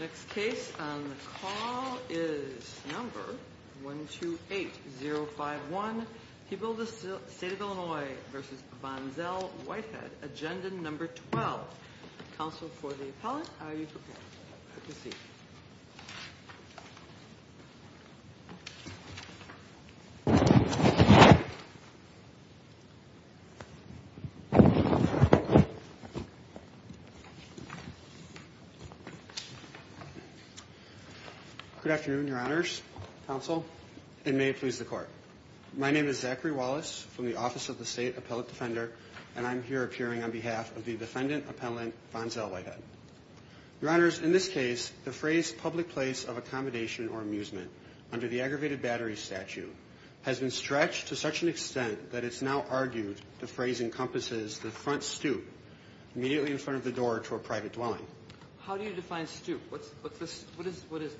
Next case on the call is number 128-051. People of the State of Illinois v. Von Zell Whitehead. Agenda number 12. Counsel for the appellant, are you prepared? Have a seat. Good afternoon, your honors, counsel, and may it please the court. My name is Zachary Wallace from the Office of the State Appellant Defender, and I'm here appearing on behalf of the defendant appellant, Von Zell Whitehead. Your honors, in this case, the phrase public place of accommodation or amusement under the aggravated battery statute has been stretched to such an extent that it's now argued the phrase encompasses the front stoop, immediately in front of the door to a private dwelling. How do you define stoop? What is this?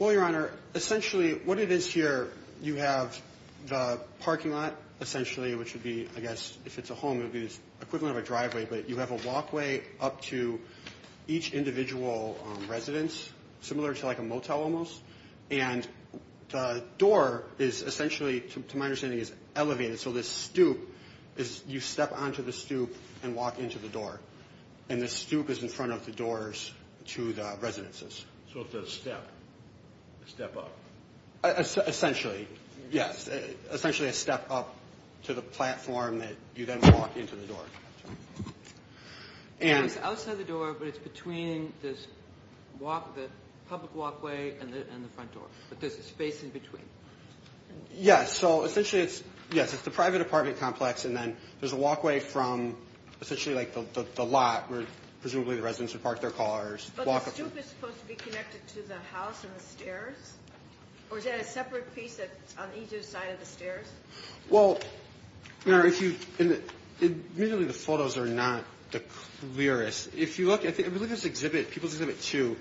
Well, your honor, essentially, what it is here, you have the parking lot, essentially, which would be, I guess, if it's a home, it would be the equivalent of a driveway, but you have a walkway up to each individual residence, similar to like a motel almost. And the door is essentially, to my understanding, is elevated. So this stoop, you step onto the stoop and walk into the door. And the stoop is in front of the doors to the residences. So it's a step, a step up. Essentially, yes. Essentially a step up to the platform that you then walk into the door. It's outside the door, but it's between the public walkway and the front door. But there's a space in between. Yes, so essentially it's the private apartment complex, and then there's a walkway from essentially like the lot, where presumably the residents would park their cars. But the stoop is supposed to be connected to the house and the stairs? Or is it a separate piece that's on either side of the stairs? Well, your honor, admittedly, the photos are not the clearest. If you look at this exhibit, People's Exhibit 2,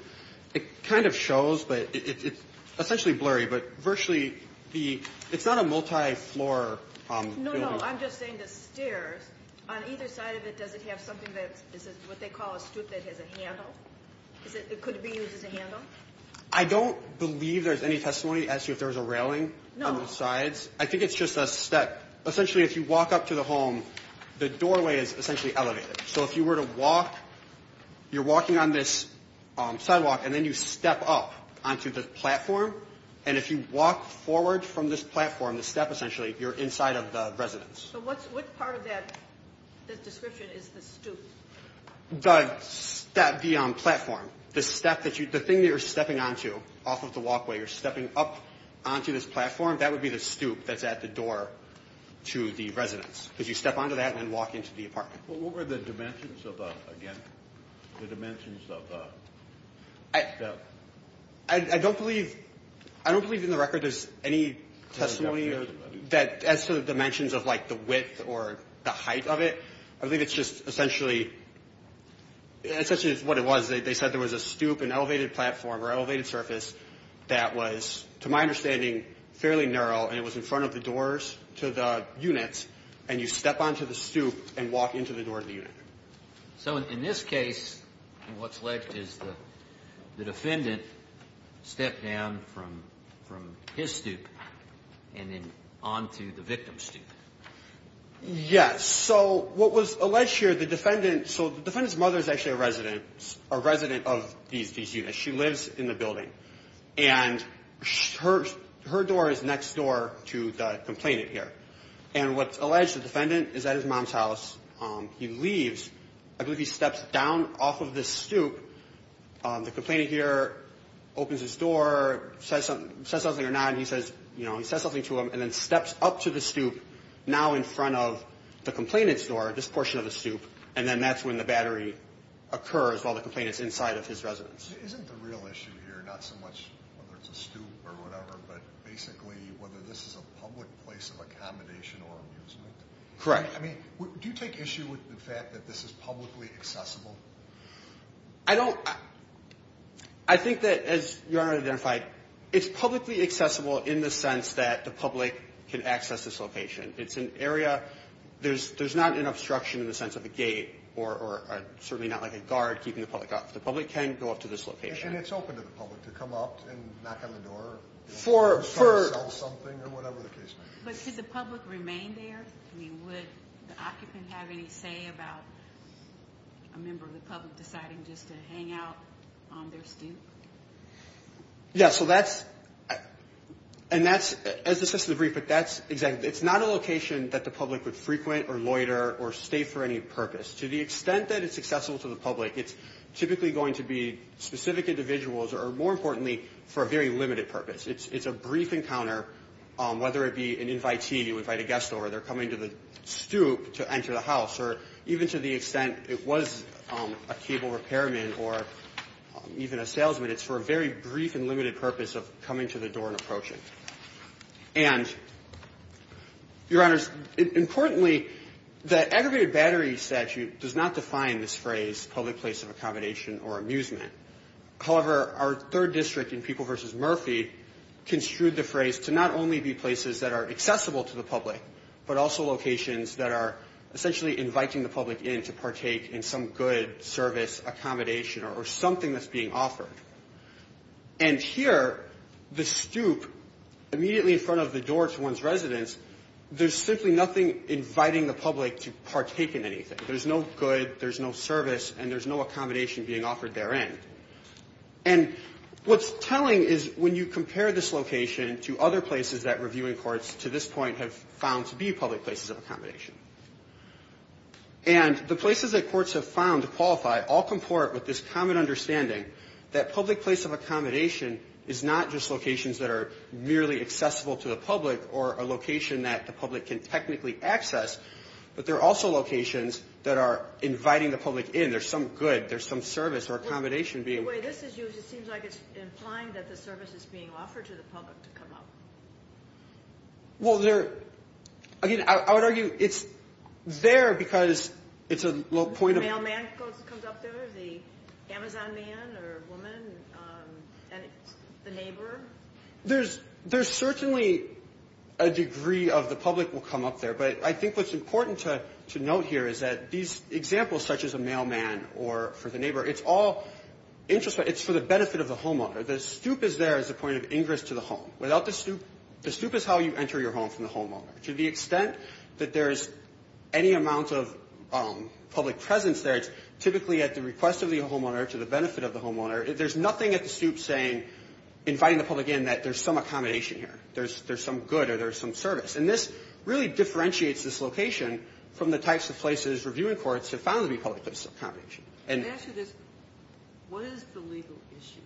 it kind of shows, but it's essentially blurry. But virtually, it's not a multi-floor building. No, no, I'm just saying the stairs, on either side of it, does it have something that is what they call a stoop that has a handle? Could it be used as a handle? I don't believe there's any testimony to ask you if there was a railing on both sides. I think it's just a step. Essentially, if you walk up to the home, the doorway is essentially elevated. So if you were to walk, you're walking on this sidewalk, and then you step up onto the platform. And if you walk forward from this platform, the step essentially, you're inside of the residence. So what part of that description is the stoop? The platform. The thing that you're stepping onto off of the walkway, you're stepping up onto this platform, that would be the stoop that's at the door to the residence. Because you step onto that and then walk into the apartment. What were the dimensions of the step? I don't believe in the record there's any testimony as to the dimensions of, like, the width or the height of it. I think it's just essentially what it was. They said there was a stoop, an elevated platform or elevated surface that was, to my understanding, fairly narrow, and it was in front of the doors to the units, and you step onto the stoop and walk into the door of the unit. So in this case, what's left is the defendant stepped down from his stoop and then onto the victim's stoop. Yes. So what was alleged here, the defendant's mother is actually a resident, a resident of these units. She lives in the building. And her door is next door to the complainant here. And what's alleged, the defendant is at his mom's house. He leaves. I believe he steps down off of this stoop. The complainant here opens his door, says something or not, and he says something to him and then steps up to the stoop, now in front of the complainant's door, this portion of the stoop, and then that's when the battery occurs while the complainant's inside of his residence. Isn't the real issue here not so much whether it's a stoop or whatever, but basically whether this is a public place of accommodation or amusement? Correct. I mean, do you take issue with the fact that this is publicly accessible? I don't. I think that, as Your Honor identified, it's publicly accessible in the sense that the public can access this location. It's an area, there's not an obstruction in the sense of a gate or certainly not like a guard keeping the public off. The public can go up to this location. And it's open to the public to come up and knock on the door, try to sell something or whatever the case may be. But could the public remain there? I mean, would the occupant have any say about a member of the public deciding just to hang out on their stoop? Yeah, so that's – and that's – as this is a brief, but that's – it's not a location that the public would frequent or loiter or stay for any purpose. To the extent that it's accessible to the public, it's typically going to be specific individuals or, more importantly, for a very limited purpose. It's a brief encounter, whether it be an invitee, you invite a guest over, they're coming to the stoop to enter the house, or even to the extent it was a cable repairman or even a salesman, it's for a very brief and limited purpose of coming to the door and approaching. And, Your Honors, importantly, the Aggravated Battery Statute does not define this phrase public place of accommodation or amusement. However, our third district in People v. Murphy construed the phrase to not only be places that are accessible to the public, but also locations that are essentially inviting the public in to partake in some good, service, accommodation, or something that's being offered. And here, the stoop, immediately in front of the door to one's residence, there's simply nothing inviting the public to partake in anything. There's no good, there's no service, and there's no accommodation being offered therein. And what's telling is when you compare this location to other places that reviewing courts to this point have found to be public places of accommodation. And the places that courts have found to qualify all comport with this common understanding that public place of accommodation is not just locations that are merely accessible to the public or a location that the public can technically access, but they're also locations that are inviting the public in. There's some good, there's some service or accommodation being offered. Do you find that the service is being offered to the public to come up? Well, again, I would argue it's there because it's a point of... The mailman comes up there, the Amazon man or woman, the neighbor. There's certainly a degree of the public will come up there, but I think what's important to note here is that these examples, such as a mailman or for the neighbor, it's all for the benefit of the homeowner. The stoop is there as a point of ingress to the home. The stoop is how you enter your home from the homeowner. To the extent that there's any amount of public presence there, it's typically at the request of the homeowner to the benefit of the homeowner. There's nothing at the stoop saying, inviting the public in, that there's some accommodation here. There's some good or there's some service. And this really differentiates this location from the types of places reviewing courts have found to be public places of accommodation. And... The question is, what is the legal issue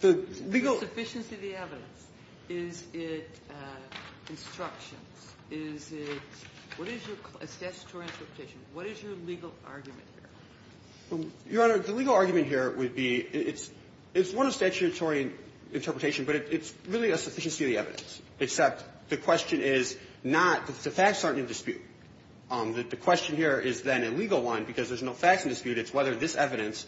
here? The legal... The sufficiency of the evidence. Is it instructions? Is it... What is your statutory interpretation? What is your legal argument here? Your Honor, the legal argument here would be it's one of statutory interpretation, but it's really a sufficiency of the evidence, except the question is not that the facts aren't in dispute. The question here is then a legal one, because there's no facts in dispute. It's whether this evidence...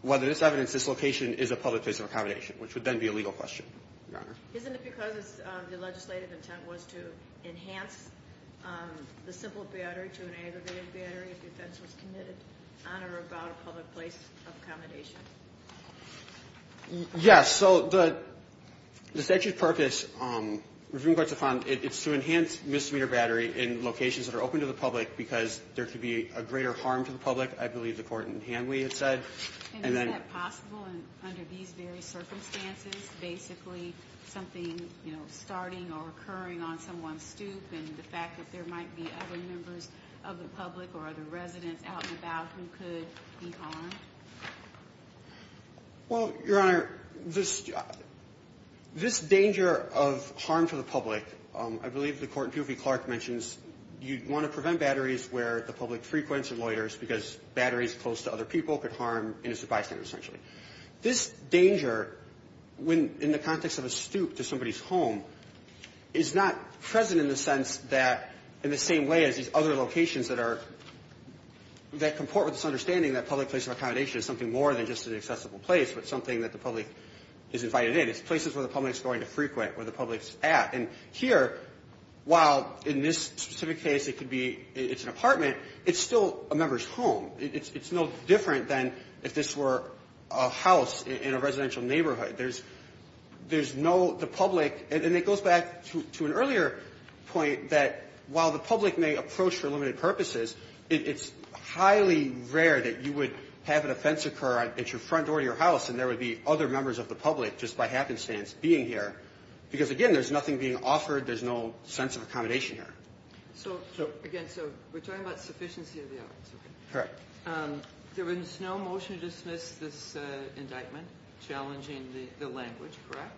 Whether this evidence, this location is a public place of accommodation, which would then be a legal question, Your Honor. Isn't it because the legislative intent was to enhance the simple battery to an aggravated battery if the offense was committed on or about a public place of accommodation? Yes. So the statute's purpose, reviewing courts have found, it's to enhance misdemeanor battery in locations that are open to the public because there could be a greater harm to the public, I believe the court in Hanley had said. And is that possible under these very circumstances? Basically something, you know, starting or occurring on someone's stoop and the fact that there might be other members of the public or other residents out and about who could be harmed? Well, Your Honor, this... This measure of harm to the public, I believe the court in Pew v. Clark mentions you'd want to prevent batteries where the public frequents or loiters because batteries close to other people could harm, and it's a bystander essentially. This danger, when in the context of a stoop to somebody's home, is not present in the sense that in the same way as these other locations that are... that comport with this understanding that public place of accommodation is something more than just an accessible place, but something that the public is invited in. It's places where the public is going to frequent, where the public is at. And here, while in this specific case it could be it's an apartment, it's still a member's home. It's no different than if this were a house in a residential neighborhood. There's no... The public... And it goes back to an earlier point that while the public may approach for limited purposes, it's highly rare that you would have an offense occur at your front door of your house and there would be other members of the public, just by happenstance, being here. Because, again, there's nothing being offered. There's no sense of accommodation here. So, again, we're talking about sufficiency of the evidence. Correct. There was no motion to dismiss this indictment challenging the language, correct?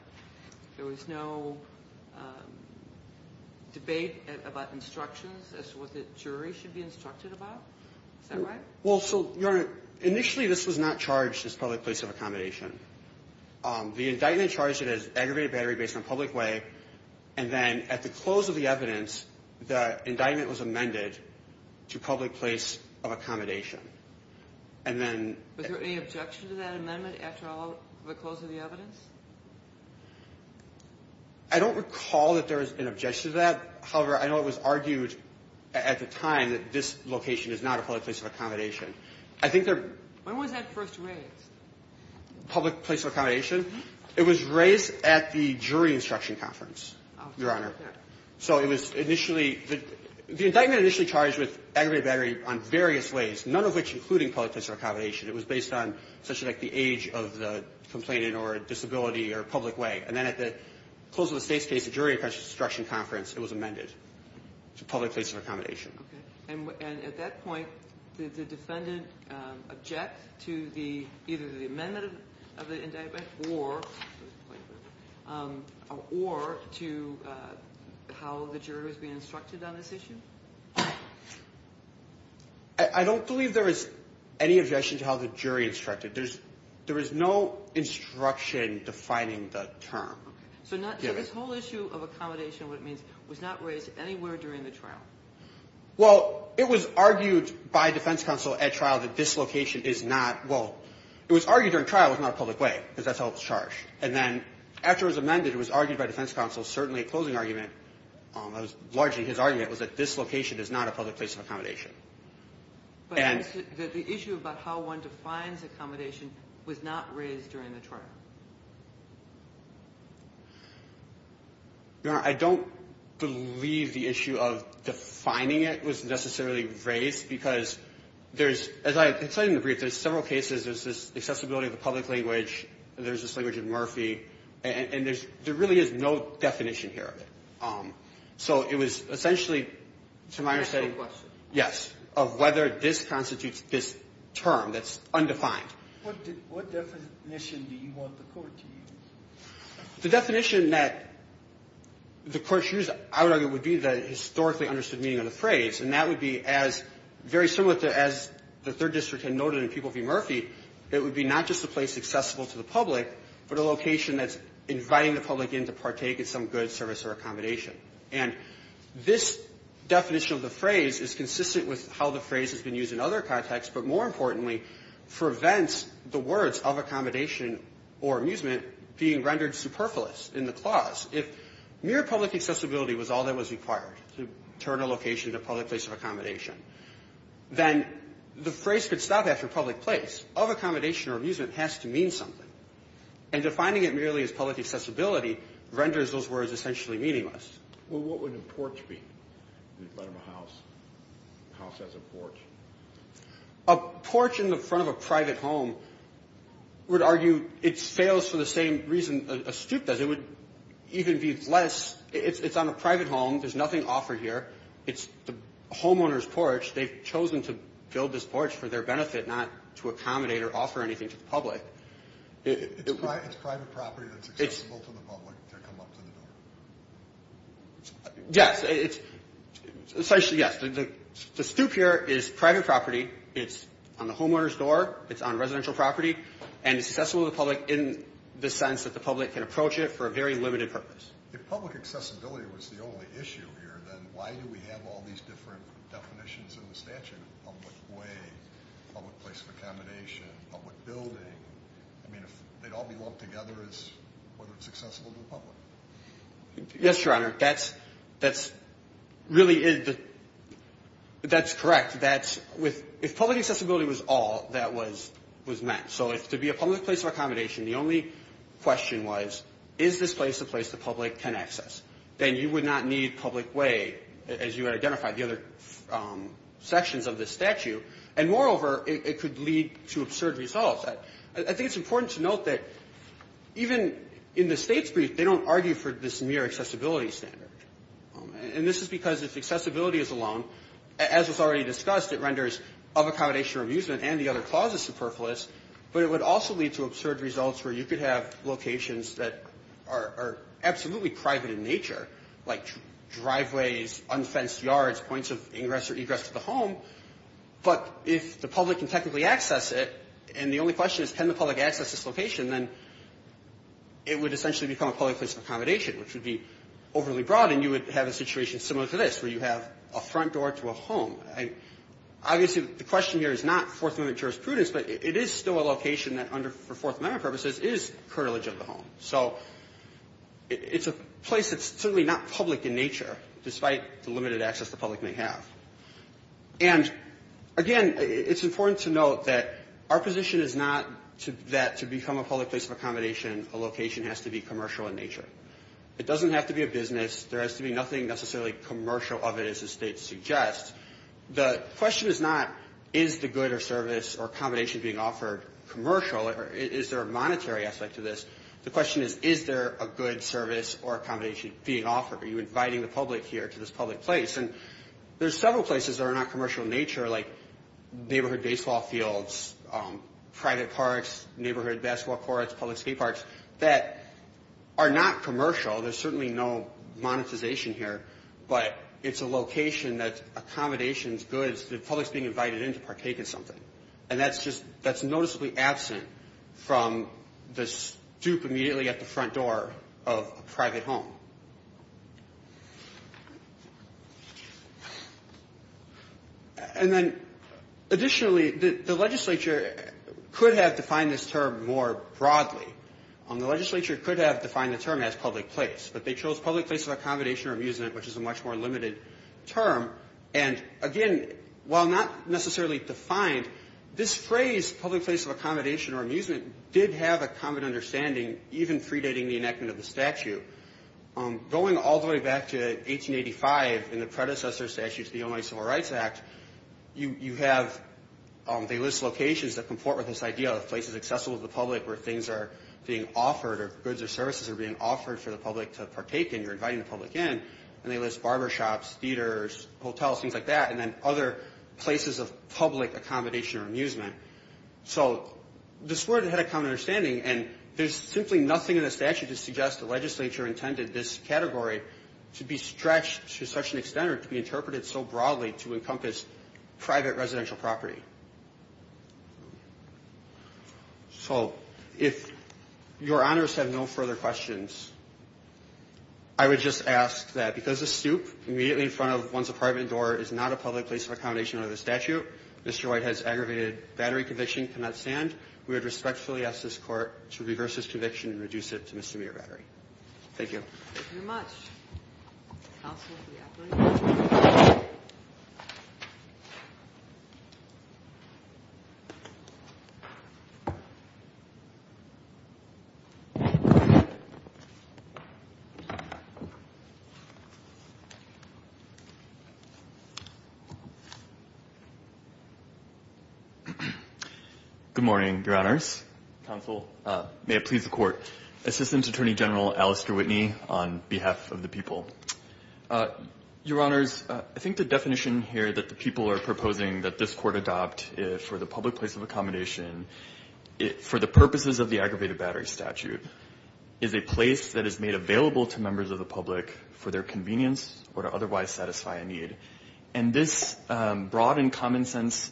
There was no debate about instructions as to what the jury should be instructed about? Is that right? Well, so, Your Honor, initially this was not charged as public place of accommodation. The indictment charged it as aggravated battery based on public way. And then at the close of the evidence, the indictment was amended to public place of accommodation. And then... Was there any objection to that amendment after all the close of the evidence? I don't recall that there was an objection to that. However, I know it was argued at the time that this location is not a public place of accommodation. I think there... When was that first raised? Public place of accommodation? It was raised at the jury instruction conference, Your Honor. So it was initially, the indictment initially charged with aggravated battery on various ways, none of which including public place of accommodation. It was based on, essentially, like the age of the complainant or disability or public way. And then at the close of the state's case, the jury instruction conference, it was amended to public place of accommodation. And at that point, did the defendant object to either the amendment of the indictment or to how the jury was being instructed on this issue? I don't believe there is any objection to how the jury instructed. There is no instruction defining the term. Okay. So this whole issue of accommodation, what it means, was not raised anywhere during the trial? Well, it was argued by defense counsel at trial that this location is not, well, it was argued during trial it was not a public way because that's how it was charged. And then after it was amended, it was argued by defense counsel, certainly a closing argument, largely his argument was that this location is not a public place of accommodation. But the issue about how one defines accommodation was not raised during the trial? Your Honor, I don't believe the issue of defining it was necessarily raised because there's, as I explained in the brief, there's several cases, there's this accessibility of the public language, there's this language in Murphy, and there really is no definition here. So it was essentially, to my understanding, yes, of whether this constitutes this term that's undefined. What definition do you want the court to use? The definition that the court should use, I would argue, would be the historically understood meaning of the phrase. And that would be as very similar to as the Third District had noted in People v. Murphy, it would be not just a place accessible to the public, but a location that's inviting the public in to partake in some good service or accommodation. And this definition of the phrase is consistent with how the phrase has been used in other contexts, but more importantly, prevents the words of accommodation or amusement being rendered superfluous in the clause. If mere public accessibility was all that was required to turn a location into a public place of accommodation, then the phrase could stop after public place. Of accommodation or amusement has to mean something. And defining it merely as public accessibility renders those words essentially meaningless. Well, what would a porch be? A porch in the front of a private home would argue it fails for the same reason a stoop does. It would even be less. It's on a private home. There's nothing offered here. It's the homeowner's porch. They've chosen to build this porch for their benefit, not to accommodate or offer anything to the public. It's private property that's accessible to the public to come up to the door. Yes. Essentially, yes. The stoop here is private property. It's on the homeowner's door. It's on residential property. And it's accessible to the public in the sense that the public can approach it for a very limited purpose. If public accessibility was the only issue here, then why do we have all these different definitions in the statute? Public way, public place of accommodation, public building. I mean, if they'd all be lumped together as whether it's accessible to the public. Yes, Your Honor. That's really is the – that's correct. That's with – if public accessibility was all, that was meant. So to be a public place of accommodation, the only question was, is this place a place the public can access? Then you would not need public way, as you identified, the other sections of the statute. And moreover, it could lead to absurd results. I think it's important to note that even in the state's brief, they don't argue for this mere accessibility standard. And this is because if accessibility is alone, as was already discussed, it renders of accommodation or amusement and the other clauses superfluous. But it would also lead to absurd results where you could have locations that are absolutely private in nature, like driveways, unfenced yards, points of ingress or egress to the home. But if the public can technically access it, and the only question is can the public access this location, then it would essentially become a public place of accommodation, which would be overly broad, and you would have a situation similar to this, where you have a front door to a home. Obviously, the question here is not Fourth Amendment jurisprudence, but it is still a location that under – for Fourth Amendment purposes, is curtilage of the home. So it's a place that's certainly not public in nature, despite the limited access the public may have. And, again, it's important to note that our position is not that to become a public place of accommodation, a location has to be commercial in nature. It doesn't have to be a business. There has to be nothing necessarily commercial of it, as the state suggests. The question is not is the good or service or accommodation being offered commercial, or is there a monetary aspect to this. The question is, is there a good service or accommodation being offered? Are you inviting the public here to this public place? And there's several places that are not commercial in nature, like neighborhood baseball fields, private parks, neighborhood basketball courts, public skate parks, that are not commercial. There's certainly no monetization here, but it's a location that's accommodations, goods, the public's being invited in to partake in something. And that's just – that's noticeably absent from the stoop immediately at the front door of a private home. And then, additionally, the legislature could have defined this term more broadly. The legislature could have defined the term as public place, but they chose public place of accommodation or amusement, which is a much more limited term. And, again, while not necessarily defined, this phrase, public place of accommodation or amusement, did have a common understanding, even predating the enactment of the statute. Going all the way back to 1885 in the predecessor statute to the Illinois Civil Rights Act, you have – they list locations that comport with this idea of places accessible to the public where things are being offered or goods or services are being offered for the public to partake in. You're inviting the public in, and they list barbershops, theaters, hotels, things like that, and then other places of public accommodation or amusement. So this word had a common understanding, and there's simply nothing in the statute to suggest the legislature intended this category to be stretched to such an extent or to be interpreted so broadly to encompass private residential property. So if Your Honors have no further questions, I would just ask that because the stoop immediately in front of one's apartment door is not a public place of accommodation under the statute, Mr. Whitehead's aggravated battery conviction cannot stand. We would respectfully ask this Court to reverse this conviction and reduce it to misdemeanor battery. Thank you. Thank you very much. Good morning, Your Honors. Counsel, may it please the Court, Assistant Attorney General Alistair Whitney on behalf of the people. Your Honors, I think the definition here that the people are proposing that this Court adopt for the public place of accommodation for the purposes of the aggravated battery statute is a place that is made available to members of the public for their convenience or to otherwise satisfy a need. And this broad and common sense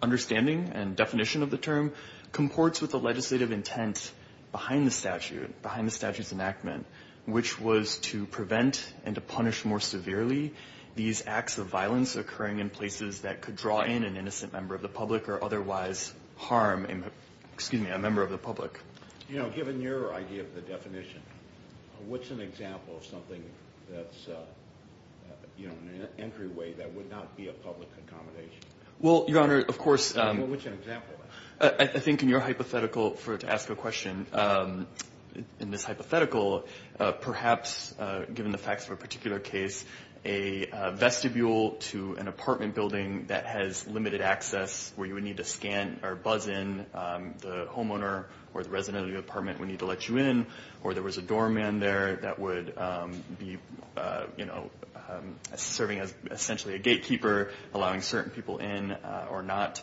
understanding and definition of the term comports with the legislative intent behind the statute, behind the statute's enactment, which was to prevent and to punish more severely these acts of violence occurring in places that could draw in an innocent member of the public or otherwise harm, excuse me, a member of the public. You know, given your idea of the definition, what's an example of something that's, you know, an entryway that would not be a public accommodation? Well, Your Honor, of course. Well, what's an example of it? I think in your hypothetical, to ask a question, in this hypothetical, perhaps given the facts of a particular case, a vestibule to an apartment building that has limited access where you would need to scan or buzz in the homeowner or the resident of the apartment would need to let you in, or there was a doorman there that would be, you know, serving as essentially a gatekeeper, allowing certain people in or not.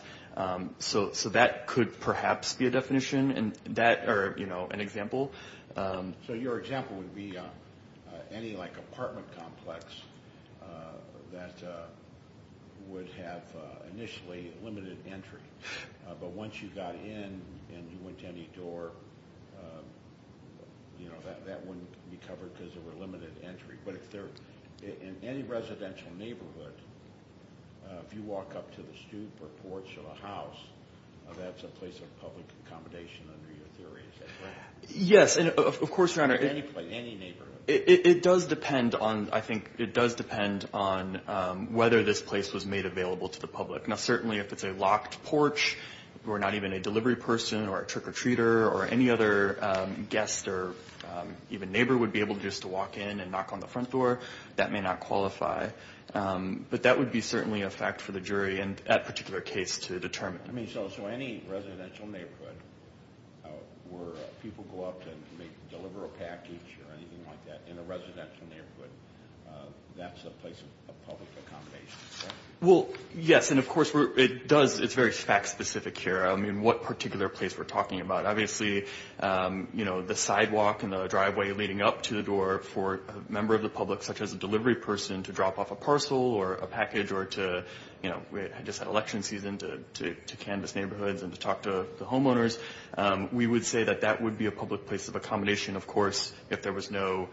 So that could perhaps be a definition or, you know, an example. So your example would be any, like, apartment complex that would have initially limited entry, but once you got in and you went to any door, you know, that wouldn't be covered because there were limited entry. In any residential neighborhood, if you walk up to the stoop or porch of a house, that's a place of public accommodation under your theory, is that correct? Of course, Your Honor. Any place, any neighborhood. It does depend on, I think, it does depend on whether this place was made available to the public. Now, certainly if it's a locked porch or not even a delivery person or a trick-or-treater or any other guest or even neighbor would be able just to walk in and knock on the front door, that may not qualify. But that would be certainly a fact for the jury and that particular case to determine. I mean, so any residential neighborhood where people go up to deliver a package or anything like that in a residential neighborhood, that's a place of public accommodation, is that right? Well, yes. And, of course, it does, it's very fact-specific here. I mean, what particular place we're talking about. Obviously, you know, the sidewalk and the driveway leading up to the door for a member of the public, such as a delivery person, to drop off a parcel or a package or to, you know, we just had election season, to canvass neighborhoods and to talk to the homeowners. We would say that that would be a public place of accommodation, of course, if there was no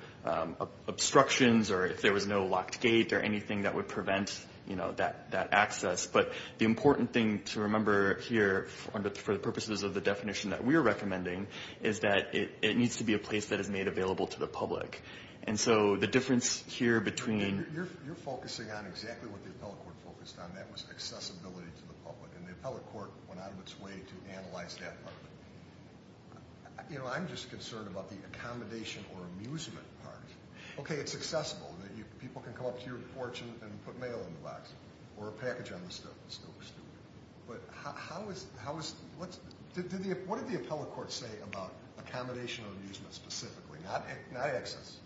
obstructions or if there was no locked gate or anything that would prevent, you know, that access. But the important thing to remember here for the purposes of the definition that we are recommending is that it needs to be a place that is made available to the public. And so the difference here between – You're focusing on exactly what the appellate court focused on. That was accessibility to the public. And the appellate court went out of its way to analyze that part. You know, I'm just concerned about the accommodation or amusement part. Okay, it's accessible. People can come up to your porch and put mail in the box or a package on the stove. But how is – what did the appellate court say about accommodation or amusement specifically? Not access.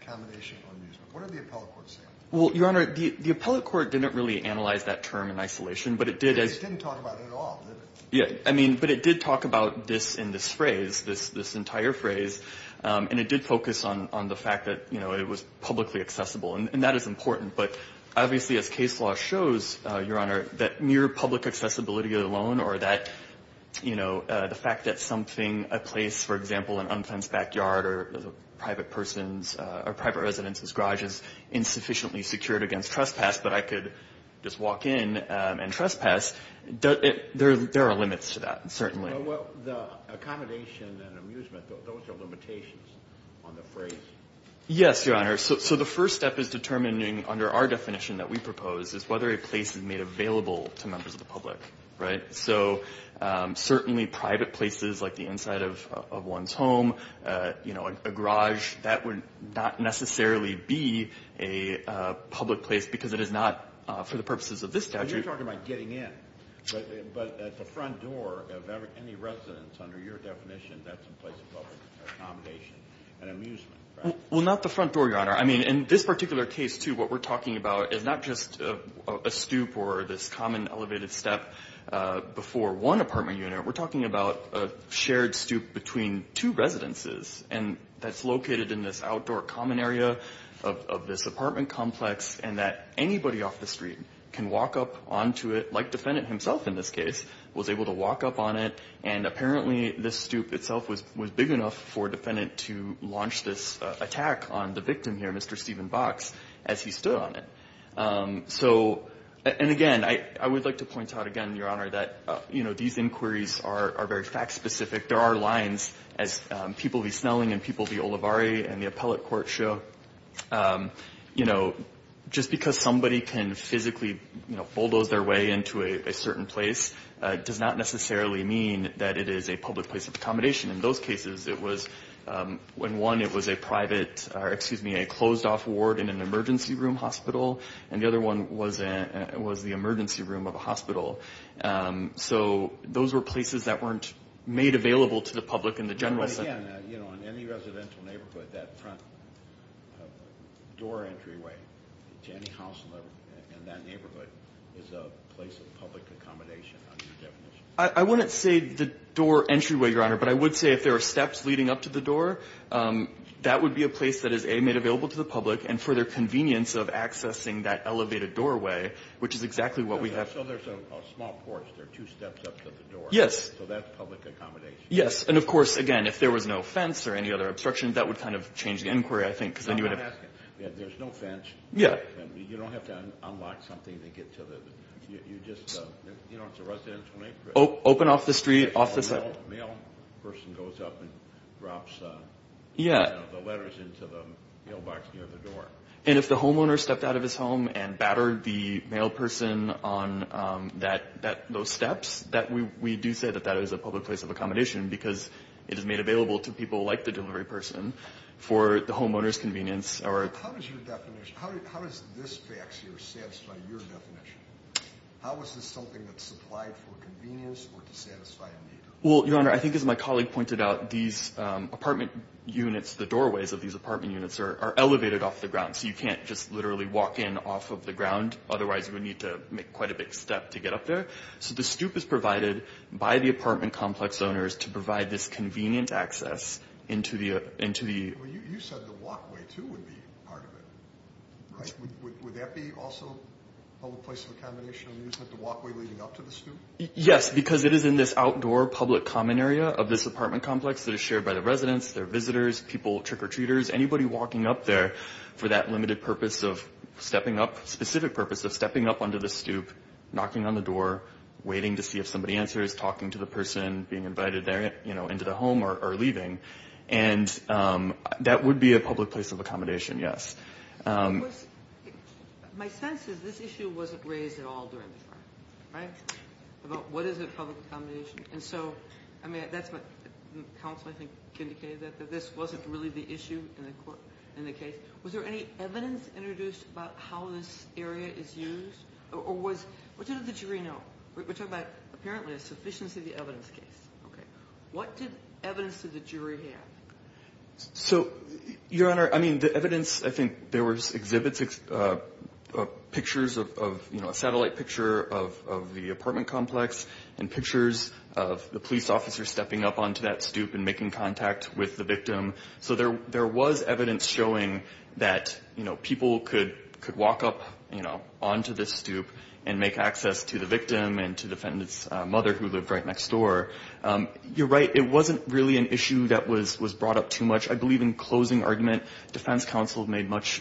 Accommodation or amusement. What did the appellate court say? Well, Your Honor, the appellate court didn't really analyze that term in isolation, but it did – It just didn't talk about it at all, did it? Yeah, I mean, but it did talk about this in this phrase, this entire phrase, and it did focus on the fact that, you know, it was publicly accessible. And that is important. But obviously, as case law shows, Your Honor, that mere public accessibility alone or that, you know, the fact that something – a place, for example, an unfenced backyard or a private person's – or a private resident's garage is insufficiently secured against trespass, but I could just walk in and trespass, there are limits to that, certainly. Well, the accommodation and amusement, those are limitations on the phrase. Yes, Your Honor. So the first step is determining under our definition that we propose is whether a place is made available to members of the public, right? So certainly private places like the inside of one's home, you know, a garage, that would not necessarily be a public place because it is not for the purposes of this statute. But you're talking about getting in. But at the front door of any residence, under your definition, that's a place of public accommodation and amusement, right? Well, not the front door, Your Honor. I mean, in this particular case, too, what we're talking about is not just a stoop or this common elevated step before one apartment unit. We're talking about a shared stoop between two residences, and that's located in this outdoor common area of this apartment complex and that anybody off the street can walk up onto it, like defendant himself in this case was able to walk up on it. And apparently this stoop itself was big enough for defendant to launch this attack on the victim here, Mr. Stephen Box, as he stood on it. So, and again, I would like to point out again, Your Honor, that, you know, these inquiries are very fact-specific. There are lines as people v. Snelling and people v. Olivari and the appellate court show, you know, just because somebody can physically, you know, bulldoze their way into a certain place does not necessarily mean that it is a public place of accommodation. In those cases, it was when one, it was a private, or excuse me, a closed-off ward in an emergency room hospital, and the other one was the emergency room of a hospital. So those were places that weren't made available to the public in the general sense. Again, you know, in any residential neighborhood, that front door entryway to any house in that neighborhood is a place of public accommodation, under your definition. I wouldn't say the door entryway, Your Honor, but I would say if there were steps leading up to the door, that would be a place that is, A, made available to the public, and for their convenience of accessing that elevated doorway, which is exactly what we have. So there's a small porch, there are two steps up to the door. Yes. So that's public accommodation. Yes. And, of course, again, if there was no fence or any other obstruction, that would kind of change the inquiry, I think. I'm not asking. There's no fence. Yeah. You don't have to unlock something to get to the, you just, you know, it's a residential neighborhood. Open off the street, off the side. A male person goes up and drops the letters into the mailbox near the door. And if the homeowner stepped out of his home and battered the male person on those steps, we do say that that is a public place of accommodation because it is made available to people like the delivery person for the homeowner's convenience. How does your definition, how does this fax here satisfy your definition? How is this something that's supplied for convenience or to satisfy a need? Well, Your Honor, I think as my colleague pointed out, these apartment units, the doorways of these apartment units, are elevated off the ground. So you can't just literally walk in off of the ground. Otherwise, you would need to make quite a big step to get up there. So the stoop is provided by the apartment complex owners to provide this convenient access into the... Well, you said the walkway, too, would be part of it, right? Would that be also a public place of accommodation when you said the walkway leading up to the stoop? Yes, because it is in this outdoor public common area of this apartment complex that is shared by the residents, their visitors, people, trick-or-treaters, anybody walking up there for that limited purpose of stepping up, under the stoop, knocking on the door, waiting to see if somebody answers, talking to the person, being invited into the home or leaving. And that would be a public place of accommodation, yes. My sense is this issue wasn't raised at all during the trial, right, about what is a public accommodation. And so, I mean, that's what counsel, I think, indicated, that this wasn't really the issue in the case. Was there any evidence introduced about how this area is used? Or what did the jury know? We're talking about, apparently, a sufficiency of the evidence case. Okay. What evidence did the jury have? So, Your Honor, I mean, the evidence, I think there was exhibits, pictures of, you know, a satellite picture of the apartment complex and pictures of the police officer stepping up onto that stoop and making contact with the victim. So there was evidence showing that, you know, people could walk up, you know, onto this stoop and make access to the victim and to defendant's mother who lived right next door. You're right. It wasn't really an issue that was brought up too much. I believe in closing argument, defense counsel made much,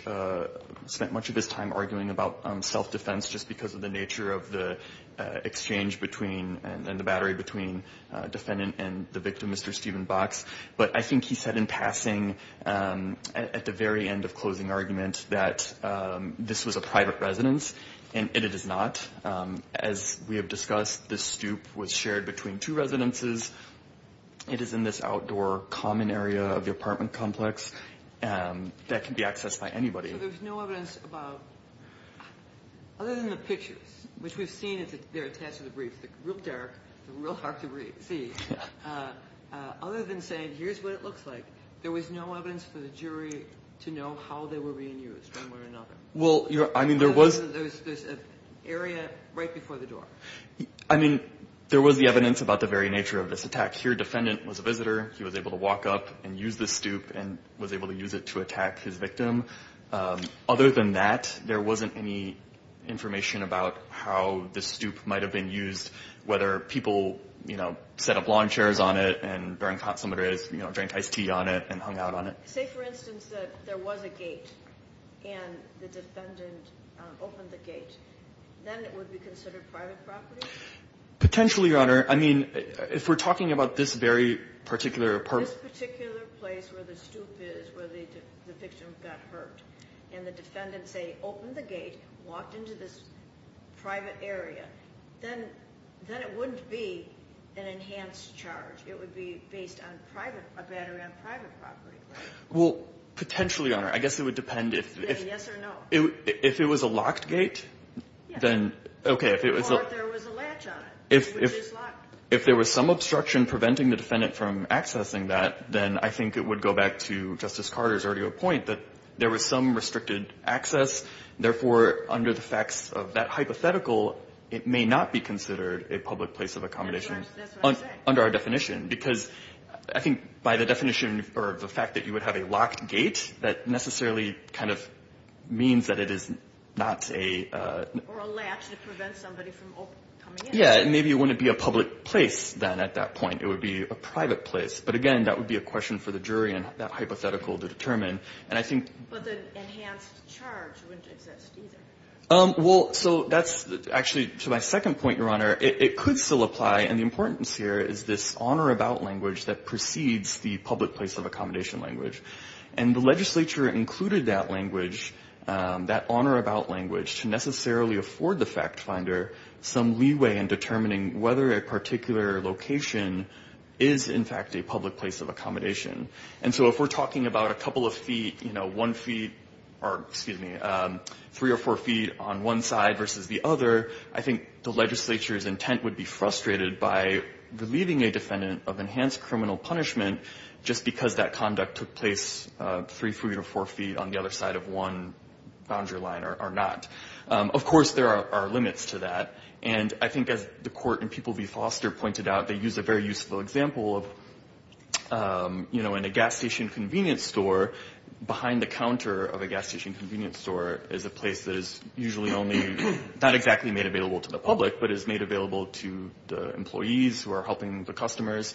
spent much of his time arguing about self-defense just because of the nature of the exchange between and the battery between defendant and the victim, Mr. Stephen Box. But I think he said in passing at the very end of closing argument that this was a private residence, and it is not. As we have discussed, this stoop was shared between two residences. It is in this outdoor common area of the apartment complex that can be accessed by anybody. So there's no evidence about, other than the pictures, which we've seen that they're attached to the brief, they're real dark, they're real hard to see, other than saying here's what it looks like, there was no evidence for the jury to know how they were being used one way or another. Well, I mean, there was. There's an area right before the door. I mean, there was the evidence about the very nature of this attack. Here, defendant was a visitor. He was able to walk up and use this stoop and was able to use it to attack his victim. Other than that, there wasn't any information about how this stoop might have been used, whether people, you know, set up lawn chairs on it and during consummatives drank iced tea on it and hung out on it. Say, for instance, that there was a gate and the defendant opened the gate, then it would be considered private property? Potentially, Your Honor. I mean, if we're talking about this very particular apartment. This particular place where the stoop is, where the victim got hurt, and the defendant, say, opened the gate, walked into this private area, then it wouldn't be an enhanced charge. It would be based on a battery on private property. Well, potentially, Your Honor. I guess it would depend if it was a locked gate. Or if there was a latch on it. If there was some obstruction preventing the defendant from accessing that, then I think it would go back to Justice Carter's earlier point that there was some restricted access. Therefore, under the facts of that hypothetical, it may not be considered a public place of accommodation. That's what I'm saying. Under our definition. Because I think by the fact that you would have a locked gate, that necessarily kind of means that it is not a... Or a latch to prevent somebody from coming in. Yeah, and maybe it wouldn't be a public place then at that point. It would be a private place. But again, that would be a question for the jury in that hypothetical to determine. But the enhanced charge wouldn't exist either. Well, so that's actually to my second point, Your Honor. It could still apply. And the importance here is this on or about language that precedes the public place of accommodation language. And the legislature included that language, that on or about language, to necessarily afford the fact finder some leeway in determining whether a particular location is in fact a public place of accommodation. And so if we're talking about a couple of feet, you know, one feet, or excuse me, three or four feet on one side versus the other, I think the legislature's intent would be frustrated by relieving a defendant of enhanced criminal punishment just because that conduct took place three, three or four feet on the other side of one boundary line or not. Of course, there are limits to that. And I think as the court in People v. Foster pointed out, they used a very useful example of, you know, in a gas station convenience store, behind the counter of a gas station convenience store is a place that is usually only, not exactly made available to the public, but is made available to the employees who are helping the customers.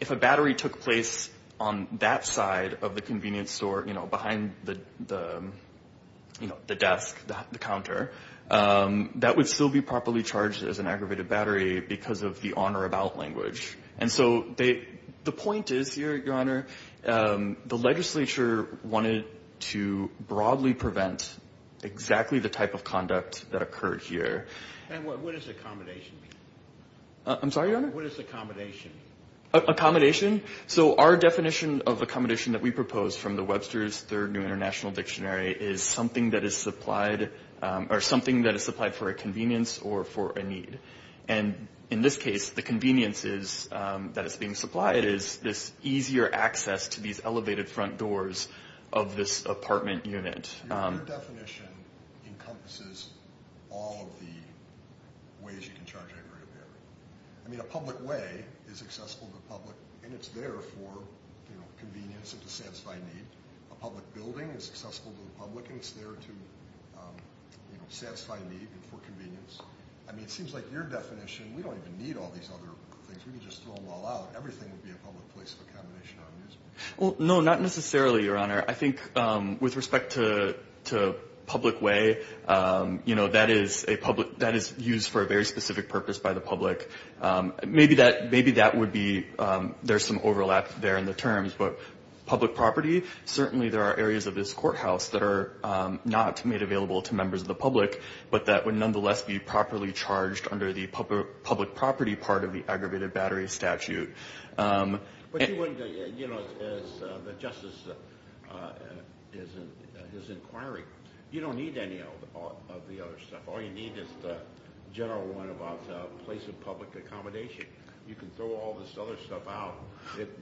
If a battery took place on that side of the convenience store, you know, behind the desk, the counter, that would still be properly charged as an aggravated battery because of the on or about language. And so the point is here, Your Honor, the legislature wanted to broadly prevent exactly the type of conduct that occurred here. And what is accommodation? I'm sorry, Your Honor? What is accommodation? Accommodation? So our definition of accommodation that we propose from the Webster's Third New International Dictionary is something that is supplied, or something that is supplied for a convenience or for a need. And in this case, the conveniences that is being supplied is this easier access to these elevated front doors of this apartment unit. Your definition encompasses all of the ways you can charge an aggravated battery. I mean, a public way is accessible to the public, and it's there for, you know, convenience and to satisfy need. A public building is accessible to the public, and it's there to, you know, satisfy need and for convenience. I mean, it seems like your definition, we don't even need all these other things. We can just throw them all out. Everything would be a public place of accommodation or amusement. Well, no, not necessarily, Your Honor. I think with respect to public way, you know, that is used for a very specific purpose by the public. Maybe that would be, there's some overlap there in the terms, but public property, certainly there are areas of this courthouse that are not made available to members of the public, but that would nonetheless be properly charged under the public property part of the aggravated battery statute. But you wouldn't, you know, as the justice is inquiring, you don't need any of the other stuff. All you need is the general one about place of public accommodation. You can throw all this other stuff out.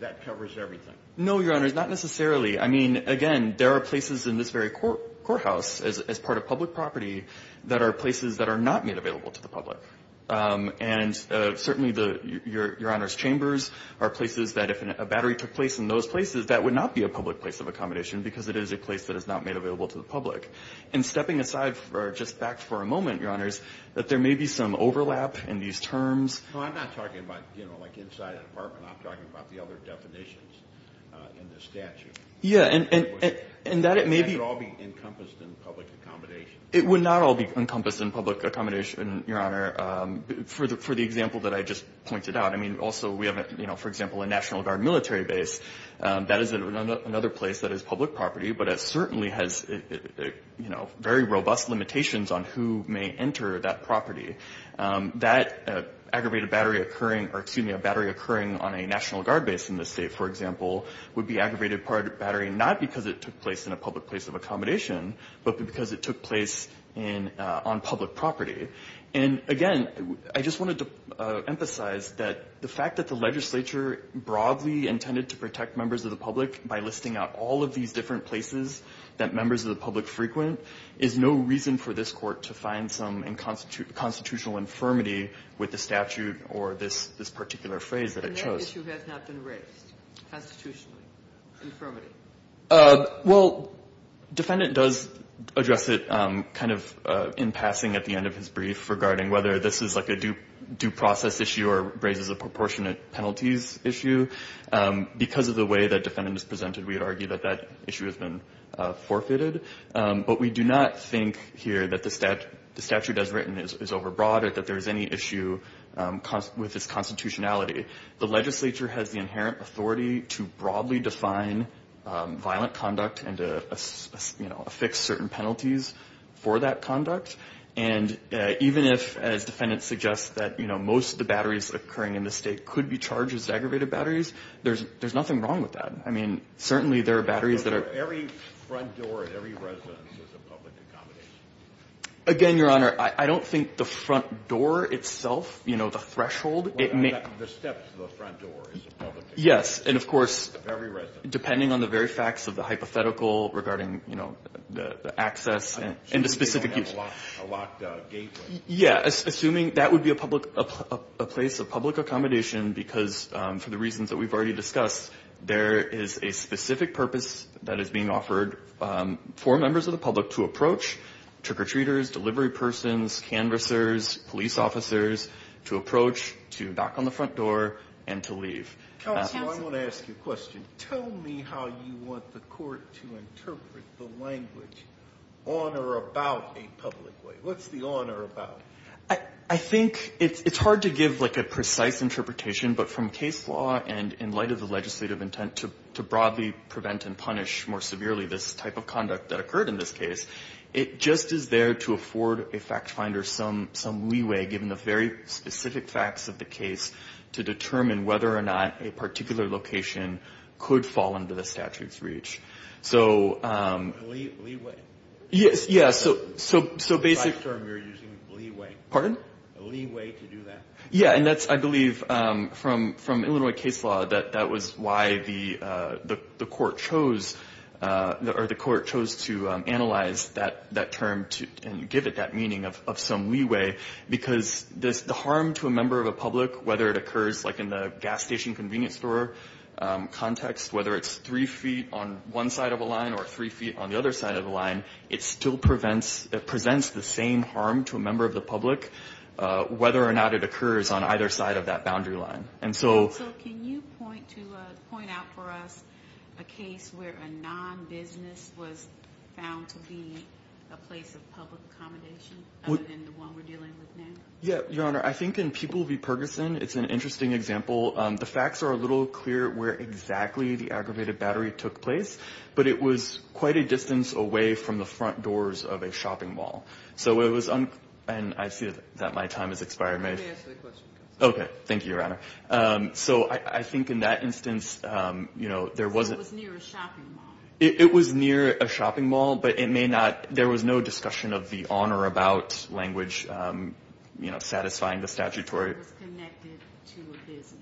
That covers everything. No, Your Honor, not necessarily. I mean, again, there are places in this very courthouse as part of public property that are places that are not made available to the public. And certainly, Your Honor's chambers are places that, if a battery took place in those places, that would not be a public place of accommodation because it is a place that is not made available to the public. And stepping aside just back for a moment, Your Honors, that there may be some overlap in these terms. No, I'm not talking about, you know, like inside a department. I'm talking about the other definitions in the statute. Yeah, and that it may be. It would not all be encompassed in public accommodation. It would not all be encompassed in public accommodation, Your Honor, for the example that I just pointed out. I mean, also, we have, you know, for example, a National Guard military base. That is another place that is public property, but it certainly has, you know, very robust limitations on who may enter that property. That aggravated battery occurring or, excuse me, a battery occurring on a National Guard base in this State, for example, would be aggravated battery not because it took place in a public place of accommodation, but because it took place on public property. And, again, I just wanted to emphasize that the fact that the legislature broadly intended to protect members of the public by listing out all of these different places that members of the public frequent is no reason for this Court to find some constitutional infirmity with the statute or this particular phrase that it chose. The issue has not been raised constitutionally, infirmity. Well, defendant does address it kind of in passing at the end of his brief regarding whether this is like a due process issue or raises a proportionate penalties issue. Because of the way that defendant is presented, we would argue that that issue has been forfeited. But we do not think here that the statute as written is overbroad or that there is any issue with its constitutionality. The legislature has the inherent authority to broadly define violent conduct and to, you know, affix certain penalties for that conduct. And even if, as defendant suggests, that, you know, most of the batteries occurring in this State could be charged as aggravated batteries, there's nothing wrong with that. I mean, certainly there are batteries that are ---- Every front door at every residence is a public accommodation. Again, Your Honor, I don't think the front door itself, you know, the threshold The steps to the front door is a public accommodation. Yes, and of course, depending on the very facts of the hypothetical regarding, you know, the access and the specific use. A locked gateway. Yes, assuming that would be a public accommodation because for the reasons that we've already discussed, there is a specific purpose that is being offered for members of the public to approach trick-or-treaters, delivery persons, canvassers, police officers, to approach, to knock on the front door, and to leave. Counsel, I want to ask you a question. Tell me how you want the court to interpret the language on or about a public way. What's the on or about? I think it's hard to give, like, a precise interpretation, but from case law and in light of the legislative intent to broadly prevent and punish more severely this type of conduct that occurred in this case, it just is there to afford a fact finder some leeway, given the very specific facts of the case, to determine whether or not a particular location could fall under the statute's reach. Leeway? Yes, yeah, so basically. The term you're using, leeway. Pardon? A leeway to do that. Yeah, and that's, I believe, from Illinois case law, that that was why the court chose to analyze that term and give it that meaning of some leeway, because the harm to a member of the public, whether it occurs, like, in the gas station convenience store context, whether it's three feet on one side of a line or three feet on the other side of the line, it still presents the same harm to a member of the public, whether or not it occurs on either side of that boundary line. So can you point out for us a case where a non-business was found to be a place of public accommodation, other than the one we're dealing with now? Yeah, Your Honor, I think in People v. Perguson, it's an interesting example. The facts are a little clear where exactly the aggravated battery took place, but it was quite a distance away from the front doors of a shopping mall. So it was, and I see that my time has expired. Let me answer the question. Okay. Thank you, Your Honor. So I think in that instance, you know, there was a near a shopping mall, but it may not. There was no discussion of the on or about language, you know, satisfying the statutory. It was connected to a business.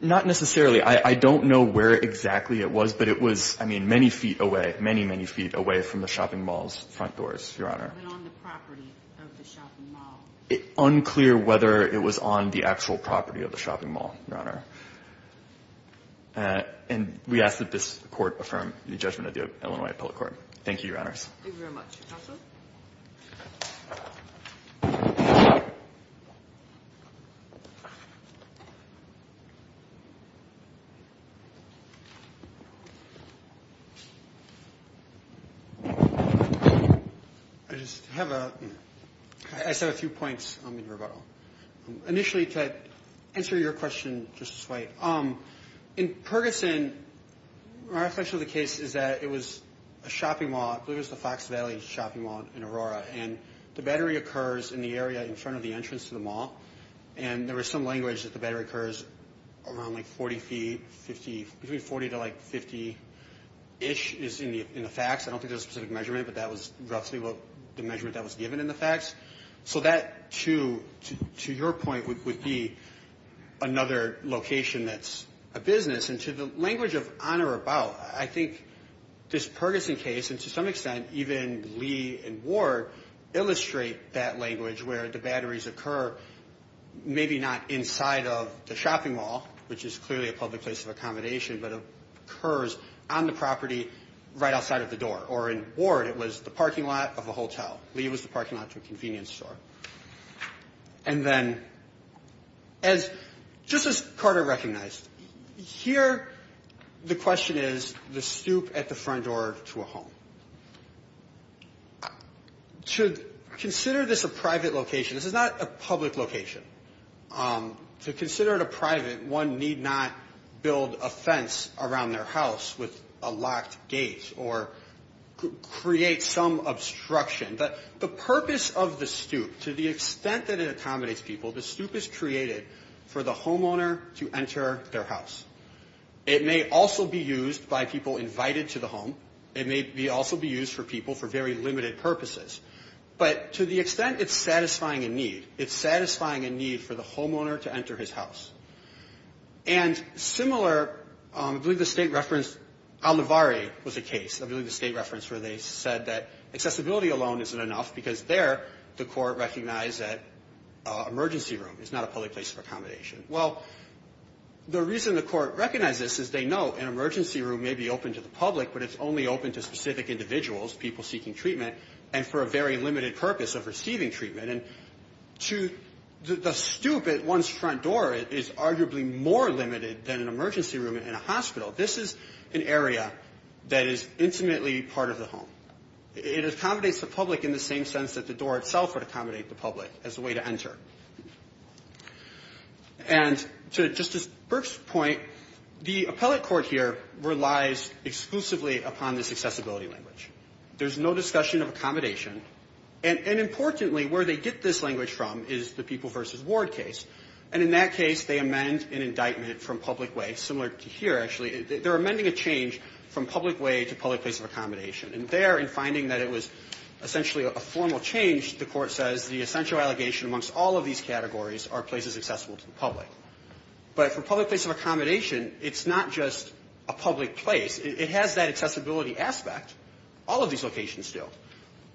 Not necessarily. I don't know where exactly it was, but it was, I mean, many feet away, many, many feet away from the shopping mall's front doors, Your Honor. But on the property of the shopping mall. It's unclear whether it was on the actual property of the shopping mall, Your Honor. And we ask that this Court affirm the judgment of the Illinois Appellate Court. Thank you, Your Honors. Thank you very much. Counsel? I just have a, I just have a few points in rebuttal. Initially, to answer your question, Justice White, in Perkinson, my reflection of the case is that it was a shopping mall. I believe it was the Fox Valley Shopping Mall in Aurora. And the battery occurs in the area in front of the entrance to the mall. And there was some language that the battery occurs around, like, 40 feet, 50, between 40 to, like, 50-ish is in the facts. I don't think there's a specific measurement, but that was roughly the measurement that was given in the facts. So that, to your point, would be another location that's a business. And to the language of on or about, I think this Perkinson case, and to some extent, even Lee and Ward illustrate that language, where the batteries occur, maybe not inside of the shopping mall, which is clearly a public place of accommodation, but it occurs on the property right outside of the door. Or in Ward, it was the parking lot of a hotel. Lee was the parking lot to a convenience store. And then just as Carter recognized, here the question is the stoop at the front door to a home. To consider this a private location, this is not a public location. To consider it a private, one need not build a fence around their house with a locked gate or create some obstruction, but the purpose of the stoop, to the extent that it accommodates people, the stoop is created for the homeowner to enter their house. It may also be used by people invited to the home. It may also be used for people for very limited purposes. But to the extent it's satisfying a need, it's satisfying a need for the homeowner to enter his house. And similar, I believe the State referenced Al Navare was a case. I believe the State referenced where they said that accessibility alone isn't enough because there the court recognized that emergency room is not a public place of accommodation. Well, the reason the court recognized this is they know an emergency room may be open to the public, but it's only open to specific individuals, people seeking treatment, and for a very limited purpose of receiving treatment. And to the stoop at one's front door is arguably more limited than an emergency room in a hospital. This is an area that is intimately part of the home. It accommodates the public in the same sense that the door itself would accommodate the public as a way to enter. And to Justice Burke's point, the appellate court here relies exclusively upon this accessibility language. There's no discussion of accommodation. And importantly, where they get this language from is the people versus ward case. And in that case, they amend an indictment from public way, similar to here, actually. They're amending a change from public way to public place of accommodation. And there, in finding that it was essentially a formal change, the court says the essential allegation amongst all of these categories are places accessible to the public. But for public place of accommodation, it's not just a public place. It has that accessibility aspect. All of these locations do.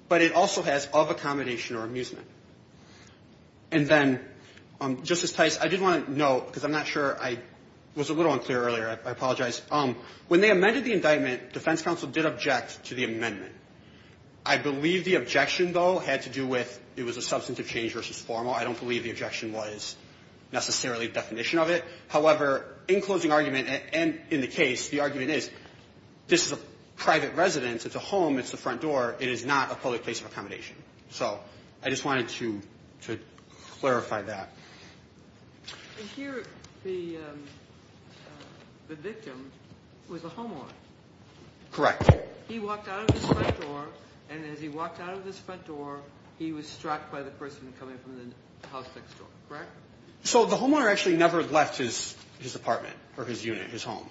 But it also has of accommodation or amusement. And then, Justice Tice, I did want to note, because I'm not sure I was a little unclear earlier. I apologize. When they amended the indictment, defense counsel did object to the amendment. I believe the objection, though, had to do with it was a substantive change versus formal. I don't believe the objection was necessarily a definition of it. However, in closing argument and in the case, the argument is this is a private residence. It's a home. It's the front door. It is not a public place of accommodation. So I just wanted to clarify that. And here, the victim was a homeowner. Correct. He walked out of this front door, and as he walked out of this front door, he was struck by the person coming from the house next door. Correct? So the homeowner actually never left his apartment or his unit, his home.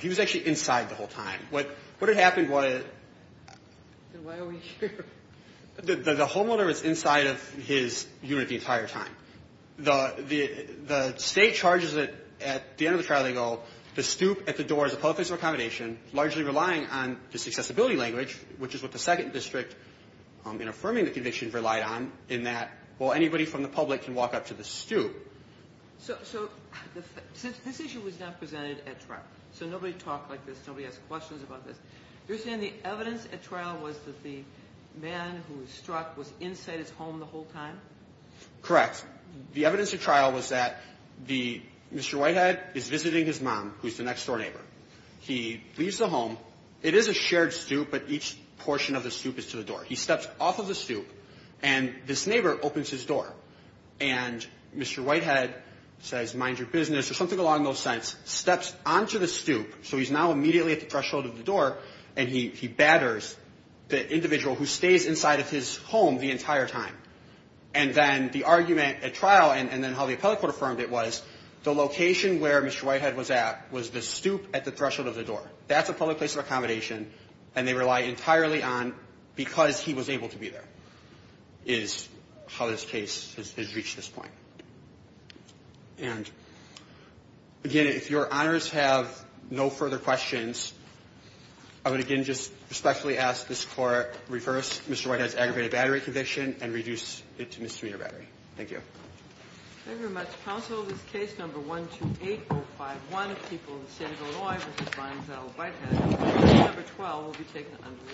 He was actually inside the whole time. What had happened was the homeowner was inside of his unit the entire time. The state charges at the end of the trial, they go, the stoop at the door is a public place of accommodation, largely relying on this accessibility language, which is what the second district in affirming the conviction relied on, in that, well, anybody from the public can walk up to the stoop. So this issue was not presented at trial. So nobody talked like this. Nobody asked questions about this. You're saying the evidence at trial was that the man who was struck was inside his home the whole time? Correct. The evidence at trial was that the Mr. Whitehead is visiting his mom, who is the next-door neighbor. He leaves the home. It is a shared stoop, but each portion of the stoop is to the door. He steps off of the stoop, and this neighbor opens his door, and Mr. Whitehead says, mind your business, or something along those lines, steps onto the stoop, so he's now immediately at the threshold of the door, and he batters the individual who stays inside of his home the entire time. And then the argument at trial, and then how the appellate court affirmed it, was the location where Mr. Whitehead was at was the stoop at the threshold of the door. That's a public place of accommodation, and they rely entirely on because he was able to be there is how this case has reached this point. And, again, if Your Honors have no further questions, I would again just respectfully ask this Court reverse Mr. Whitehead's aggravated battery conviction and reduce it to Ms. Sumita Battery. Thank you. Thank you very much, counsel. This case, number 128-051, of the people of the state of Illinois, v. Bonneville-Whitehead, case number 12, will be taken under review.